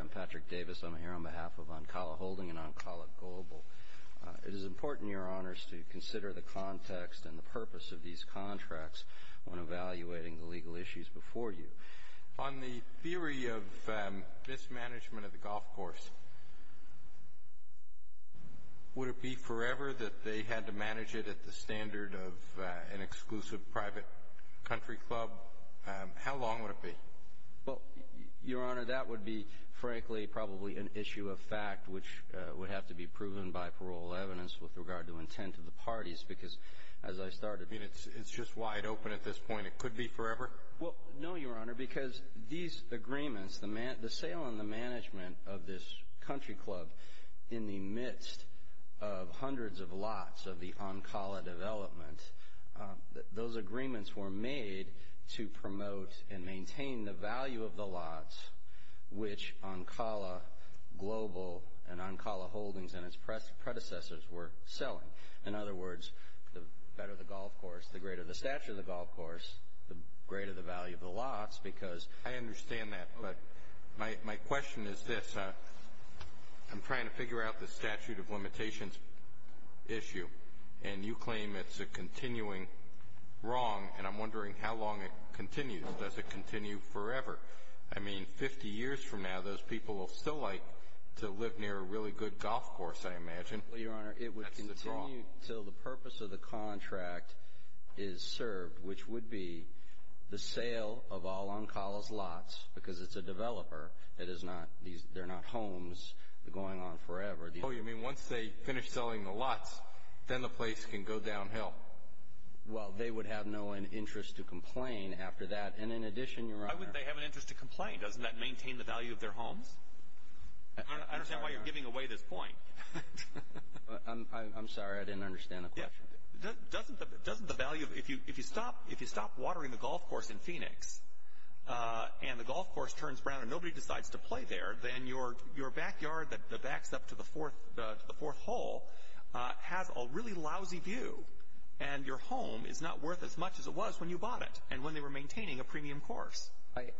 I'm Patrick Davis. I'm here on behalf of Ancala Holdings and Ancala Global. It is important, Your Honors, to consider the context and the purpose of these contracts when evaluating the legal issues before you. On the theory of mismanagement of the golf course, would it be forever that they had to manage it at the standard of an exclusive private country club? How long would it be? Well, Your Honor, that would be, frankly, probably an issue of fact which would have to be proven by parole evidence with regard to intent of the parties because as I started... I mean, it's just wide open at this point. It could be forever? Well, no, Your Honor, because these agreements, the sale and the management of this country club in the midst of hundreds of lots of the Ancala development, those agreements were made to promote and maintain the value of the lots which Ancala Global and Ancala Holdings and its predecessors were selling. In other words, the better the golf course, the greater the stature of the golf course, the greater the value of the lots because... I'm trying to figure out the statute of limitations issue and you claim it's a continuing wrong and I'm wondering how long it continues. Does it continue forever? I mean, 50 years from now, those people will still like to live near a really good golf course, I imagine. Well, Your Honor, it would continue until the purpose of the contract is served which would be the sale of all Ancala's lots because it's a developer. They're not homes. They're going on forever. Oh, you mean once they finish selling the lots, then the place can go downhill? Well, they would have no interest to complain after that. And in addition, Your Honor... Why would they have an interest to complain? Doesn't that maintain the value of their homes? I don't understand why you're giving away this point. I'm sorry. I didn't understand the question. Doesn't the value... If you stop watering the golf course in Phoenix and the golf course turns brown and nobody decides to play there, then your backyard that backs up to the fourth hole has a really lousy view. And your home is not worth as much as it was when you bought it and when they were maintaining a premium course.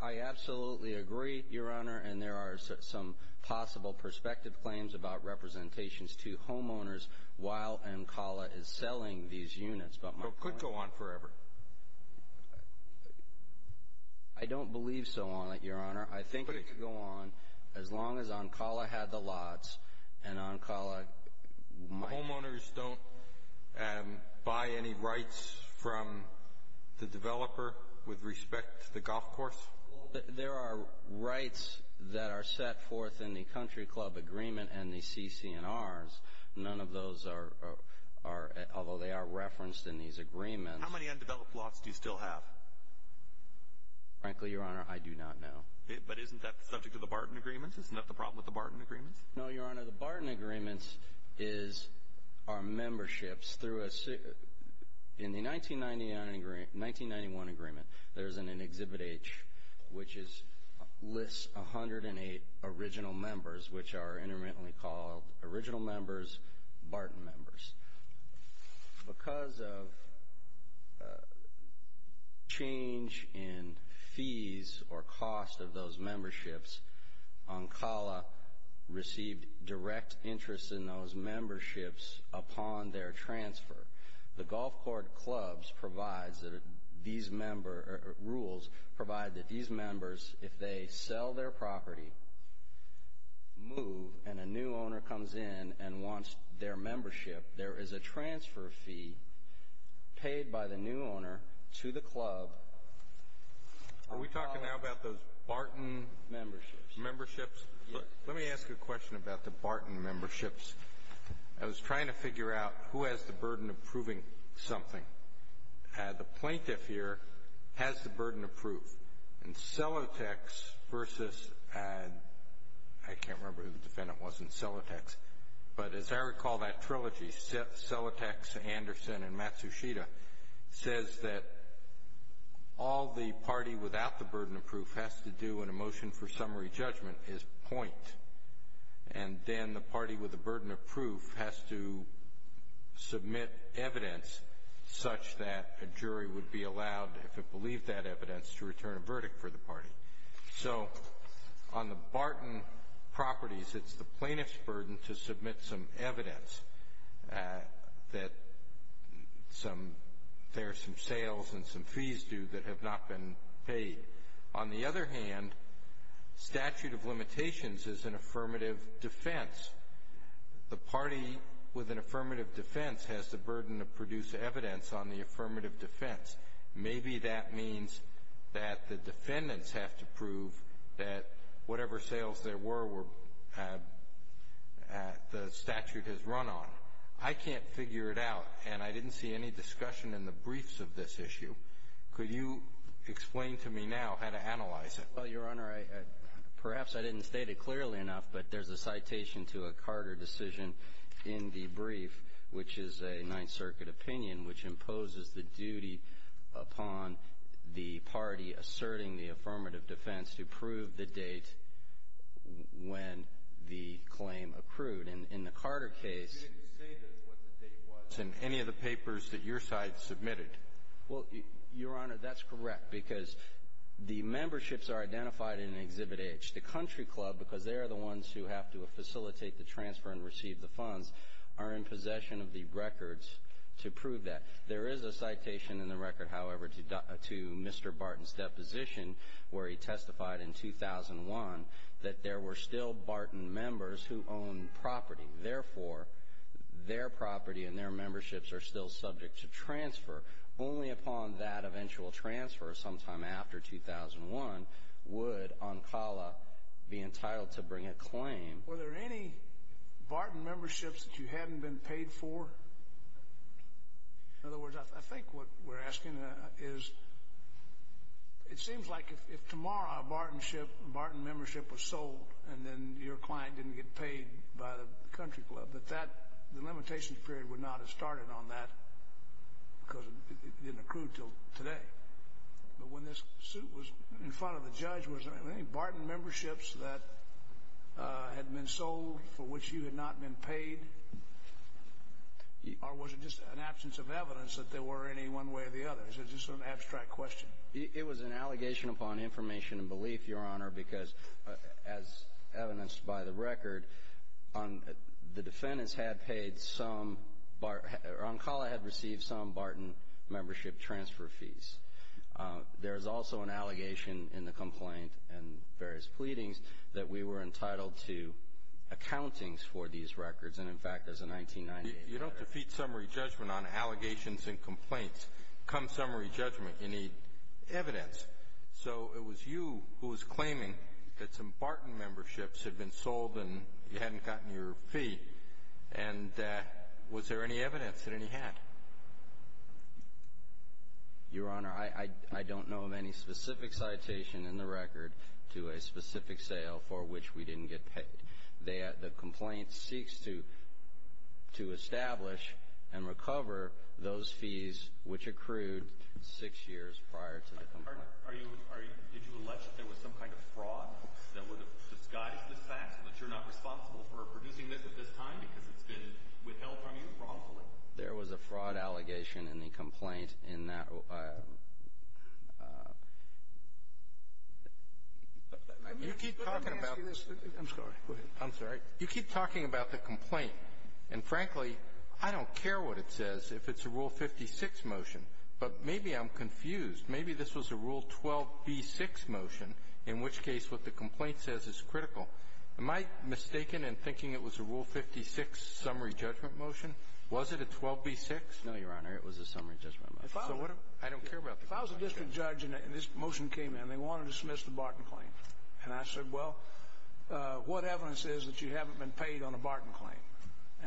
I absolutely agree, Your Honor. And there are some possible perspective claims about representations to homeowners while Ancala is selling these units. But it could go on forever. I don't believe so on it, Your Honor. I think it could go on as long as Ancala had the lots and Ancala... Homeowners don't buy any rights from the developer with respect to the golf course? There are rights that are set forth in the Country Club Agreement and the CC&Rs. None of those are... Although they are referenced in these agreements. How many undeveloped homes are there? How many undeveloped lots do you still have? Frankly, Your Honor, I do not know. But isn't that subject to the Barton Agreements? Isn't that the problem with the Barton Agreements? No, Your Honor. The Barton Agreements are memberships through a... In the 1991 agreement, there's an Exhibit H, which lists 108 original members, which are intermittently called Original Members, Barton Members. Because of change in fees or cost of those memberships, Ancala received direct interest in those memberships upon their transfer. The golf court clubs provides that these member... Rules provide that these members, if they sell their property, move, and a new owner comes in and wants their membership, there is a transfer fee paid by the new owner to the club... Are we talking now about those Barton memberships? Yes. Let me ask you a question about the Barton memberships. I was trying to figure out who has the burden of proving something. The plaintiff here has the burden of proof. And Celotex versus... I can't remember who the defendant was in Celotex. But as I recall that trilogy, Celotex, Anderson, and Matsushita, says that all the party without the burden of proof has to do in a motion for summary judgment is point. And then the party with the burden of proof has to submit evidence such that a jury would be allowed, if it believed that evidence, to return a verdict for the party. So on the Barton properties, it's the plaintiff's burden to submit some evidence that there are some sales and some fees due that have not been paid. On the other hand, statute of limitations is an affirmative defense. The party with an affirmative defense has the burden to produce evidence on the affirmative defense. Maybe that means that the defendants have to prove that whatever sales there were, the statute has run on. I can't figure it out, and I didn't see any discussion in the briefs of this issue. Could you explain to me now how to analyze it? Well, Your Honor, perhaps I didn't state it clearly enough, but there's a citation to a Carter decision in the brief, which is a Ninth Circuit opinion, which imposes the duty upon the party asserting the affirmative defense to prove the date when the claim accrued. And in the Carter case... You didn't state what the date was in any of the papers that your side submitted. Well, Your Honor, that's correct, because the memberships are identified in Exhibit H. The Country Club, because they are the ones who have to facilitate the transfer and receive the funds, are in possession of the records to prove that. There is a citation in the record, however, to Mr. Barton's deposition, where he testified in 2001 that there were still Barton members who owned property. Therefore, their property and their memberships are still subject to transfer. Only upon that eventual transfer sometime after 2001 would Oncala be entitled to bring a claim. Were there any Barton memberships that you hadn't been paid for? In other words, I think what we're asking is, it seems like if tomorrow a Barton membership was sold and then your client didn't get paid by the Country Club, that the limitations period would not have started on that because it didn't accrue until today. But when this suit was in front of the judge, was there any Barton memberships that had been sold for which you had not been paid? Or was it just an absence of evidence that there were any one way or the other? Is it just an abstract question? It was an allegation upon information and belief, Your Honor, because as evidenced by the record, the defendants had paid some – Oncala had received some Barton membership transfer fees. There is also an allegation in the complaint and various pleadings that we were entitled to accountings for these records. And, in fact, as of 1998 – You don't defeat summary judgment on allegations and complaints. Come summary judgment, you need evidence. So it was you who was claiming that some Barton memberships had been sold and you hadn't gotten your fee, and was there any evidence that any had? Your Honor, I don't know of any specific citation in the record to a specific sale for which we didn't get paid. The complaint seeks to establish and recover those fees which accrued six years prior to the complaint. Are you – are you – did you allege that there was some kind of fraud that would have disguised this fact, that you're not responsible for producing this at this time because it's been withheld from you wrongfully? There was a fraud allegation in the complaint in that – You keep talking about – I'm sorry. Go ahead. I'm sorry. You keep talking about the complaint, and, frankly, I don't care what it says if it's a Rule 56 motion, but maybe I'm confused. Maybe this was a Rule 12b6 motion, in which case what the complaint says is critical. Am I mistaken in thinking it was a Rule 56 summary judgment motion? Was it a 12b6? No, Your Honor, it was a summary judgment motion. I don't care about the complaint. If I was a district judge and this motion came in, and they wanted to dismiss the Barton claim, and I said, well, what evidence is that you haven't been paid on a Barton claim?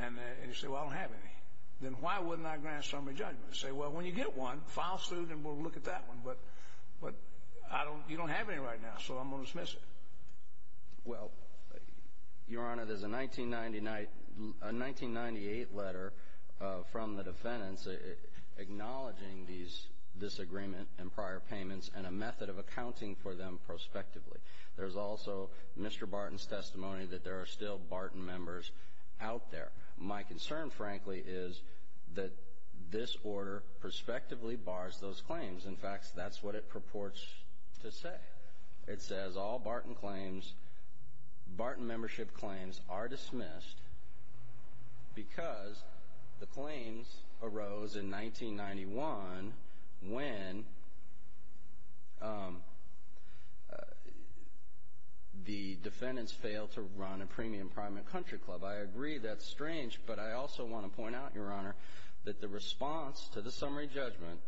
And you say, well, I don't have any. Then why wouldn't I grant a summary judgment? I'd say, well, when you get one, file suit, and we'll look at that one. But you don't have any right now, so I'm going to dismiss it. Well, Your Honor, there's a 1998 letter from the defendants acknowledging these disagreement and prior payments and a method of accounting for them prospectively. There's also Mr. Barton's testimony that there are still Barton members out there. My concern, frankly, is that this order prospectively bars those claims. In fact, that's what it purports to say. It says all Barton claims, Barton membership claims, are dismissed because the claims arose in 1991 when the defendants failed to run a premium private country club. I agree that's strange, but I also want to point out, Your Honor, that the response to the summary judgment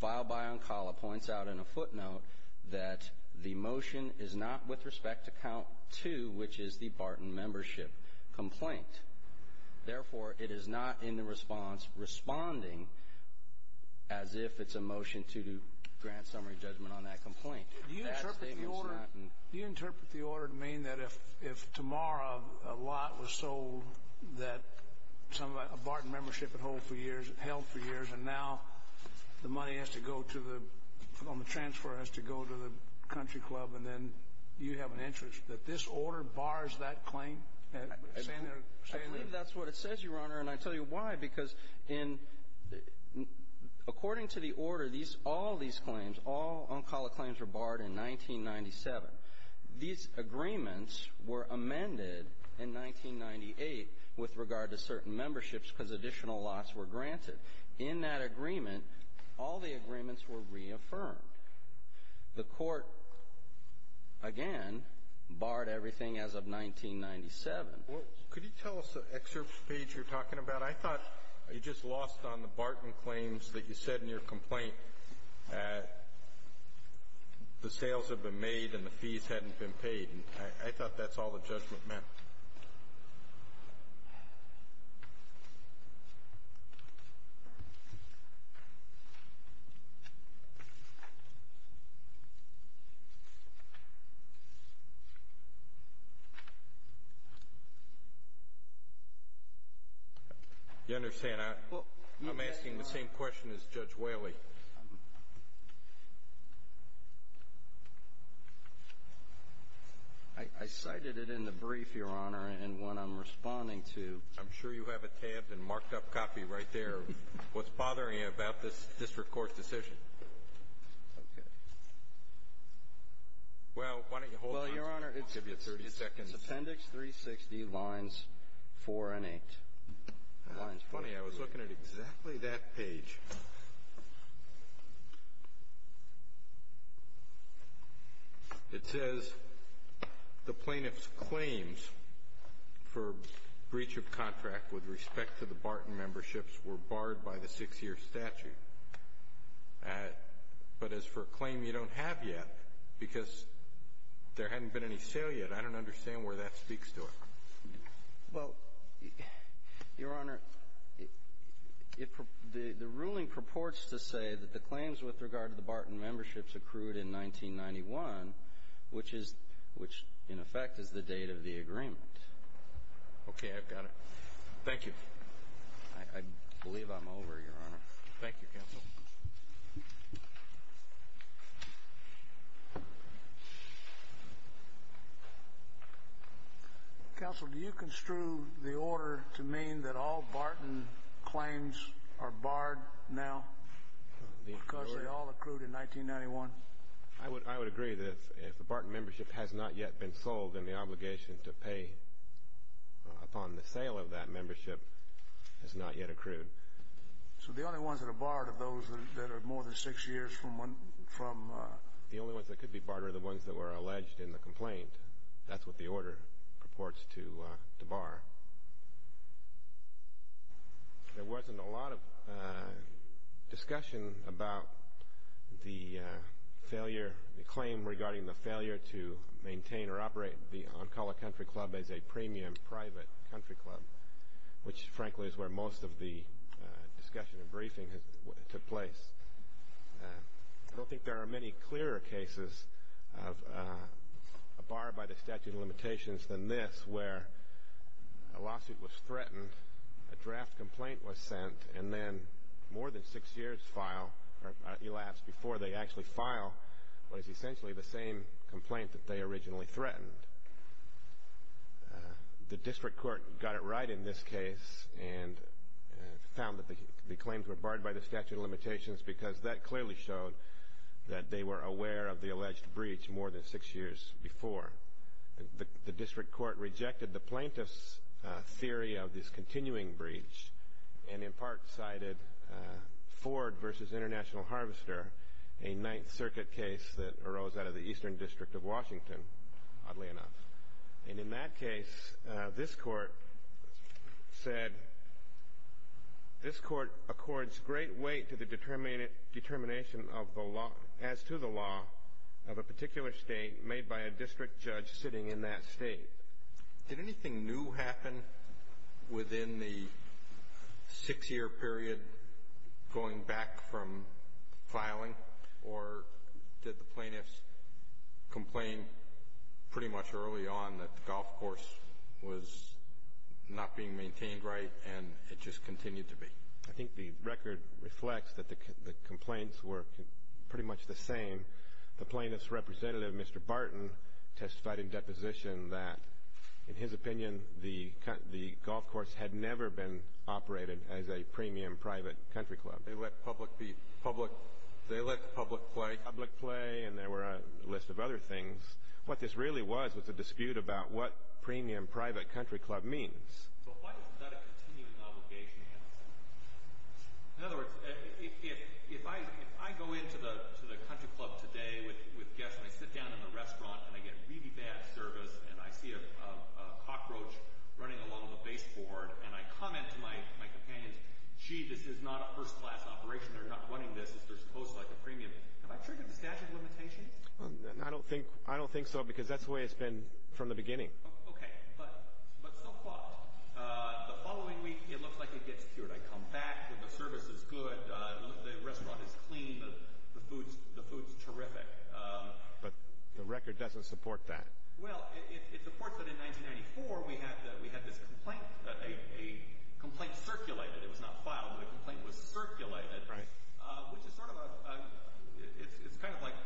filed by Oncala points out in a footnote that the motion is not with respect to count two, which is the Barton membership complaint. Therefore, it is not in the response responding as if it's a motion to grant summary judgment on that complaint. Do you interpret the order to mean that if tomorrow a lot was sold that a Barton membership held for years and now the money on the transfer has to go to the country club and then you have an interest, that this order bars that claim? I believe that's what it says, Your Honor, and I'll tell you why. Because according to the order, all these claims, all Oncala claims were barred in 1997. These agreements were amended in 1998 with regard to certain memberships because additional lots were granted. In that agreement, all the agreements were reaffirmed. The Court, again, barred everything as of 1997. Well, could you tell us the excerpt page you're talking about? I thought you just lost on the Barton claims that you said in your complaint that the sales had been made and the fees hadn't been paid. I thought that's all the judgment meant. You understand, I'm asking the same question as Judge Whaley. I cited it in the brief, Your Honor, and what I'm responding to. I'm sure you have a tabbed and marked-up copy right there. What's bothering you about this District Court's decision? Okay. Well, why don't you hold on. Well, Your Honor, it's Appendix 360, Lines 4 and 8. Lines 4 and 8. Funny, I was looking at exactly that page. It says the plaintiff's claims for breach of contract with respect to the Barton memberships were barred by the 6-year statute but as for a claim you don't have yet, because there hadn't been any sale yet, I don't understand where that speaks to it. Well, Your Honor, the ruling purports to say that the claims with regard to the Barton memberships accrued in 1991, which in effect is the date of the agreement. Okay, I've got it. Thank you. I believe I'm over, Your Honor. Thank you, Counsel. Counsel, do you construe the order to mean that all Barton claims are barred now because they all accrued in 1991? I would agree that if the Barton membership has not yet been sold, then the obligation to pay upon the sale of that membership has not yet accrued. So the only ones that are barred are those that are more than 6 years from? The only ones that could be barred are the ones that were alleged in the complaint. That's what the order purports to bar. There wasn't a lot of discussion about the failure, the claim regarding the failure to maintain or operate the Oncala Country Club as a premium private country club, which, frankly, is where most of the discussion and briefing took place. I don't think there are many clearer cases of a bar by the statute of limitations than this, where a lawsuit was threatened, a draft complaint was sent, and then more than 6 years elapsed before they actually file what is essentially the same complaint that they originally threatened. The district court got it right in this case and found that the claims were barred by the statute of limitations because that clearly showed that they were aware of the alleged breach more than 6 years before. The district court rejected the plaintiff's theory of this continuing breach and in part cited Ford v. International Harvester, a Ninth Circuit case that arose out of the Eastern District of Washington, oddly enough. And in that case, this court said, this court accords great weight to the determination as to the law of a particular state made by a district judge sitting in that state. Did anything new happen within the 6-year period going back from filing, or did the plaintiffs complain pretty much early on that the golf course was not being maintained right and it just continued to be? I think the record reflects that the complaints were pretty much the same. The plaintiff's representative, Mr. Barton, testified in deposition that, in his opinion, the golf course had never been operated as a premium private country club. They let the public play. They let the public play and there were a list of other things. What this really was was a dispute about what premium private country club means. So why is that a continuing obligation? In other words, if I go into the country club today with guests and I sit down in the restaurant and I get really bad service and I see a cockroach running along the baseboard and I comment to my companions, gee, this is not a first class operation, they're not running this, this is supposed to be like a premium, have I triggered the statute of limitations? I don't think so because that's the way it's been from the beginning. Okay, but so what? The following week it looks like it gets cured. I come back, the service is good, the restaurant is clean, the food's terrific. But the record doesn't support that. Well, it supports that in 1994 we had this complaint. A complaint circulated, it was not filed, but a complaint was circulated. Right. Which is sort of a, it's kind of like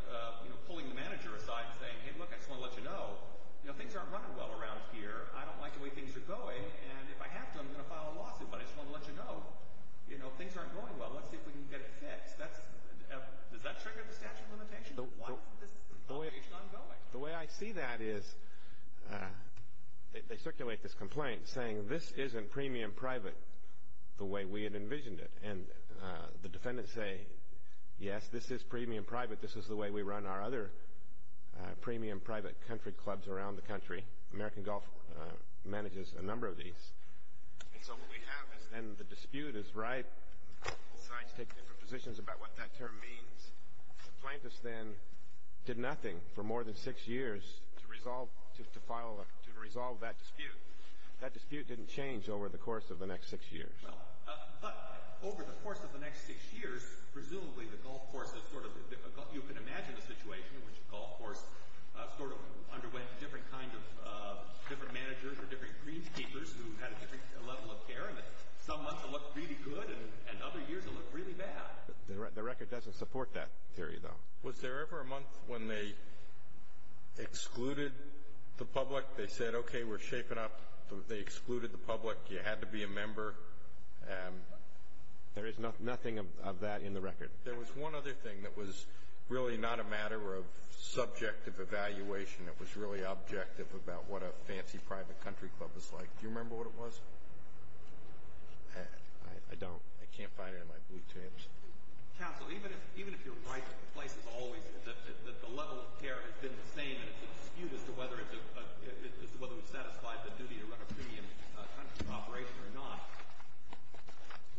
pulling the manager aside and saying, hey, look, I just want to let you know, you know, things aren't running well around here. I don't like the way things are going, and if I have to I'm going to file a lawsuit, but I just want to let you know, you know, things aren't going well. Let's see if we can get it fixed. Does that trigger the statute of limitations? Why isn't this operation ongoing? The way I see that is they circulate this complaint saying this isn't premium private the way we had envisioned it. And the defendants say, yes, this is premium private. This is the way we run our other premium private country clubs around the country. American Golf manages a number of these. And so what we have is then the dispute is ripe. Both sides take different positions about what that term means. The plaintiffs then did nothing for more than six years to resolve that dispute. That dispute didn't change over the course of the next six years. Well, but over the course of the next six years, presumably the golf course has sort of been difficult. You can imagine the situation in which the golf course sort of underwent different kinds of different managers or different greenkeepers who had a different level of care. And some months it looked really good, and other years it looked really bad. The record doesn't support that theory, though. Was there ever a month when they excluded the public? They said, okay, we're shaping up. They excluded the public. You had to be a member. There is nothing of that in the record. There was one other thing that was really not a matter of subjective evaluation. It was really objective about what a fancy private country club was like. Do you remember what it was? I don't. I can't find it in my blue tapes. Counsel, even if you're right that the level of care has been the same and it's a dispute as to whether it's satisfied the duty to run a premium country of operation or not,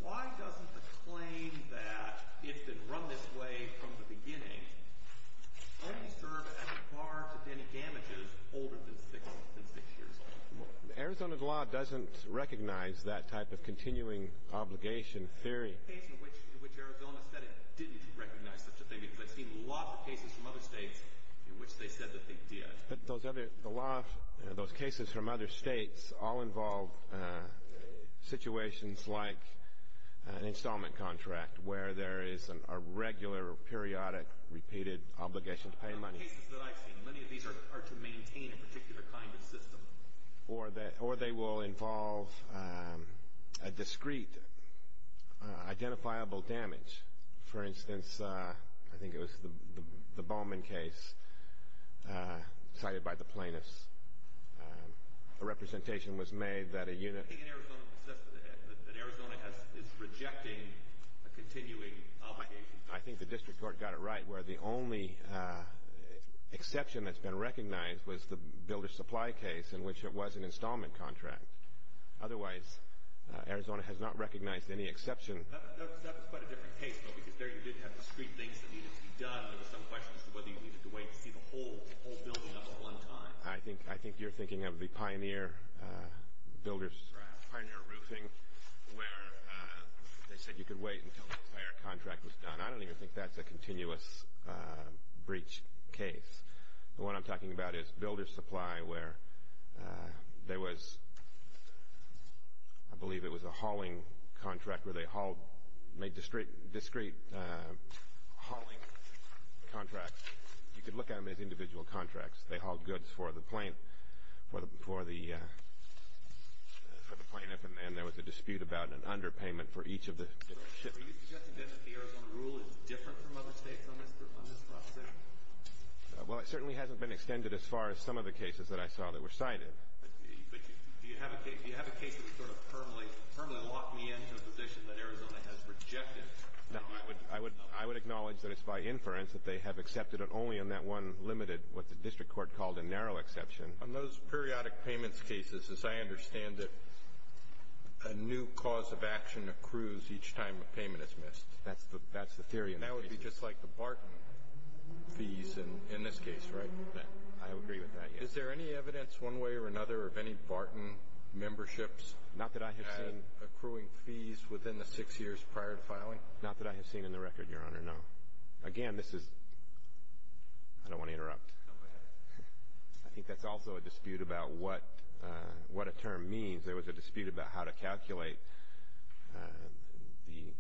why doesn't the claim that it's been run this way from the beginning only serve as a bar to any damages older than six years? Arizona's law doesn't recognize that type of continuing obligation theory. The case in which Arizona said it didn't recognize such a thing because I've seen lots of cases from other states in which they said that they did. But those cases from other states all involve situations like an installment contract where there is a regular, periodic, repeated obligation to pay money. The cases that I've seen, many of these are to maintain a particular kind of system. Or they will involve a discreet, identifiable damage. For instance, I think it was the Bowman case cited by the plaintiffs. The representation was made that a unit I think in Arizona it was said that Arizona is rejecting a continuing obligation. I think the district court got it right where the only exception that's been recognized was the builder supply case in which it was an installment contract. Otherwise, Arizona has not recognized any exception. That was quite a different case, though, because there you did have discreet things that needed to be done. There were some questions as to whether you needed to wait to see the whole building at one time. I think you're thinking of the pioneer roofing where they said you could wait until the entire contract was done. I don't even think that's a continuous breach case. The one I'm talking about is builder supply where there was I believe it was a hauling contract where they made discreet hauling contracts. You could look at them as individual contracts. They hauled goods for the plaintiff, and there was a dispute about an underpayment for each of the shipments. Are you suggesting then that the Arizona rule is different from other states on this proposition? Well, it certainly hasn't been extended as far as some of the cases that I saw that were cited. But do you have a case that would sort of permanently lock me into a position that Arizona has rejected? No, I would acknowledge that it's by inference that they have accepted it only on that one limited what the district court called a narrow exception. On those periodic payments cases, as I understand it, a new cause of action accrues each time a payment is missed. That's the theory. And that would be just like the Barton fees in this case, right? I agree with that, yes. Is there any evidence one way or another of any Barton memberships Not that I have seen. accruing fees within the six years prior to filing? Not that I have seen in the record, Your Honor, no. Again, this is I don't want to interrupt. No, go ahead. I think that's also a dispute about what a term means. There was a dispute about how to calculate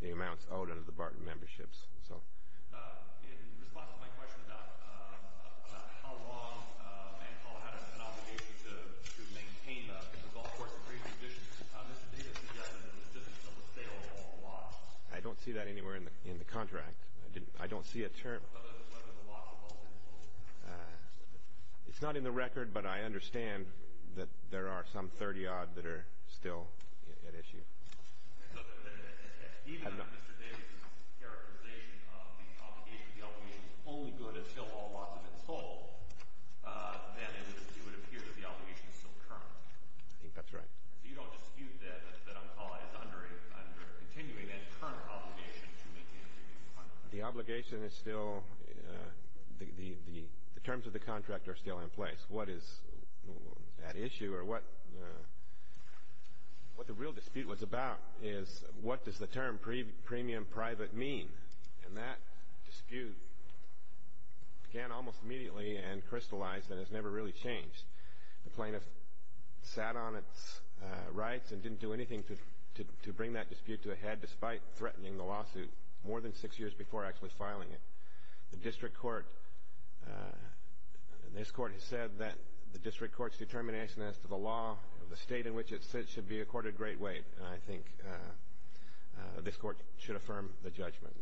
the amounts owed under the Barton memberships. In response to my question about how long Manfall had an obligation to maintain the golf course free conditions, Mr. Davis has said that it was just a sale or a loss. I don't see that anywhere in the contract. I don't see a term. It's not in the record, but I understand that there are some 30-odd that are still at issue. Even if Mr. Davis' characterization of the obligation is only good until all loss has been sold, then it would appear that the obligation is still current. I think that's right. So you don't dispute that Manfall is continuing its current obligation to maintain the golf course? The obligation is still the terms of the contract are still in place. What is at issue or what the real dispute was about is what does the term premium private mean? And that dispute began almost immediately and crystallized and has never really changed. The plaintiff sat on its rights and didn't do anything to bring that dispute to a head, despite threatening the lawsuit more than six years before actually filing it. The district court has said that the district court's determination as to the law of the state in which it sits should be accorded great weight, and I think this court should affirm the judgment.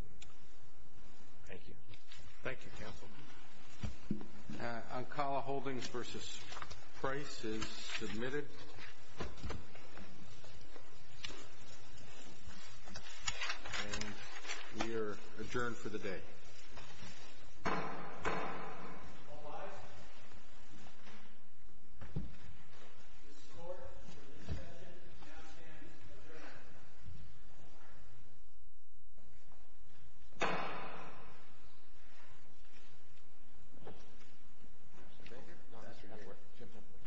Thank you, counsel. Oncala Holdings v. Price is submitted. And we are adjourned for the day. All rise. This court is adjourned. Mr. Baker?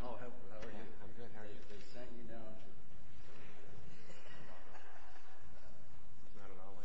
No, Mr. Baker. Oh, how are you? I'm good, how are you? They sent you down. It's not at all what you thought it would be.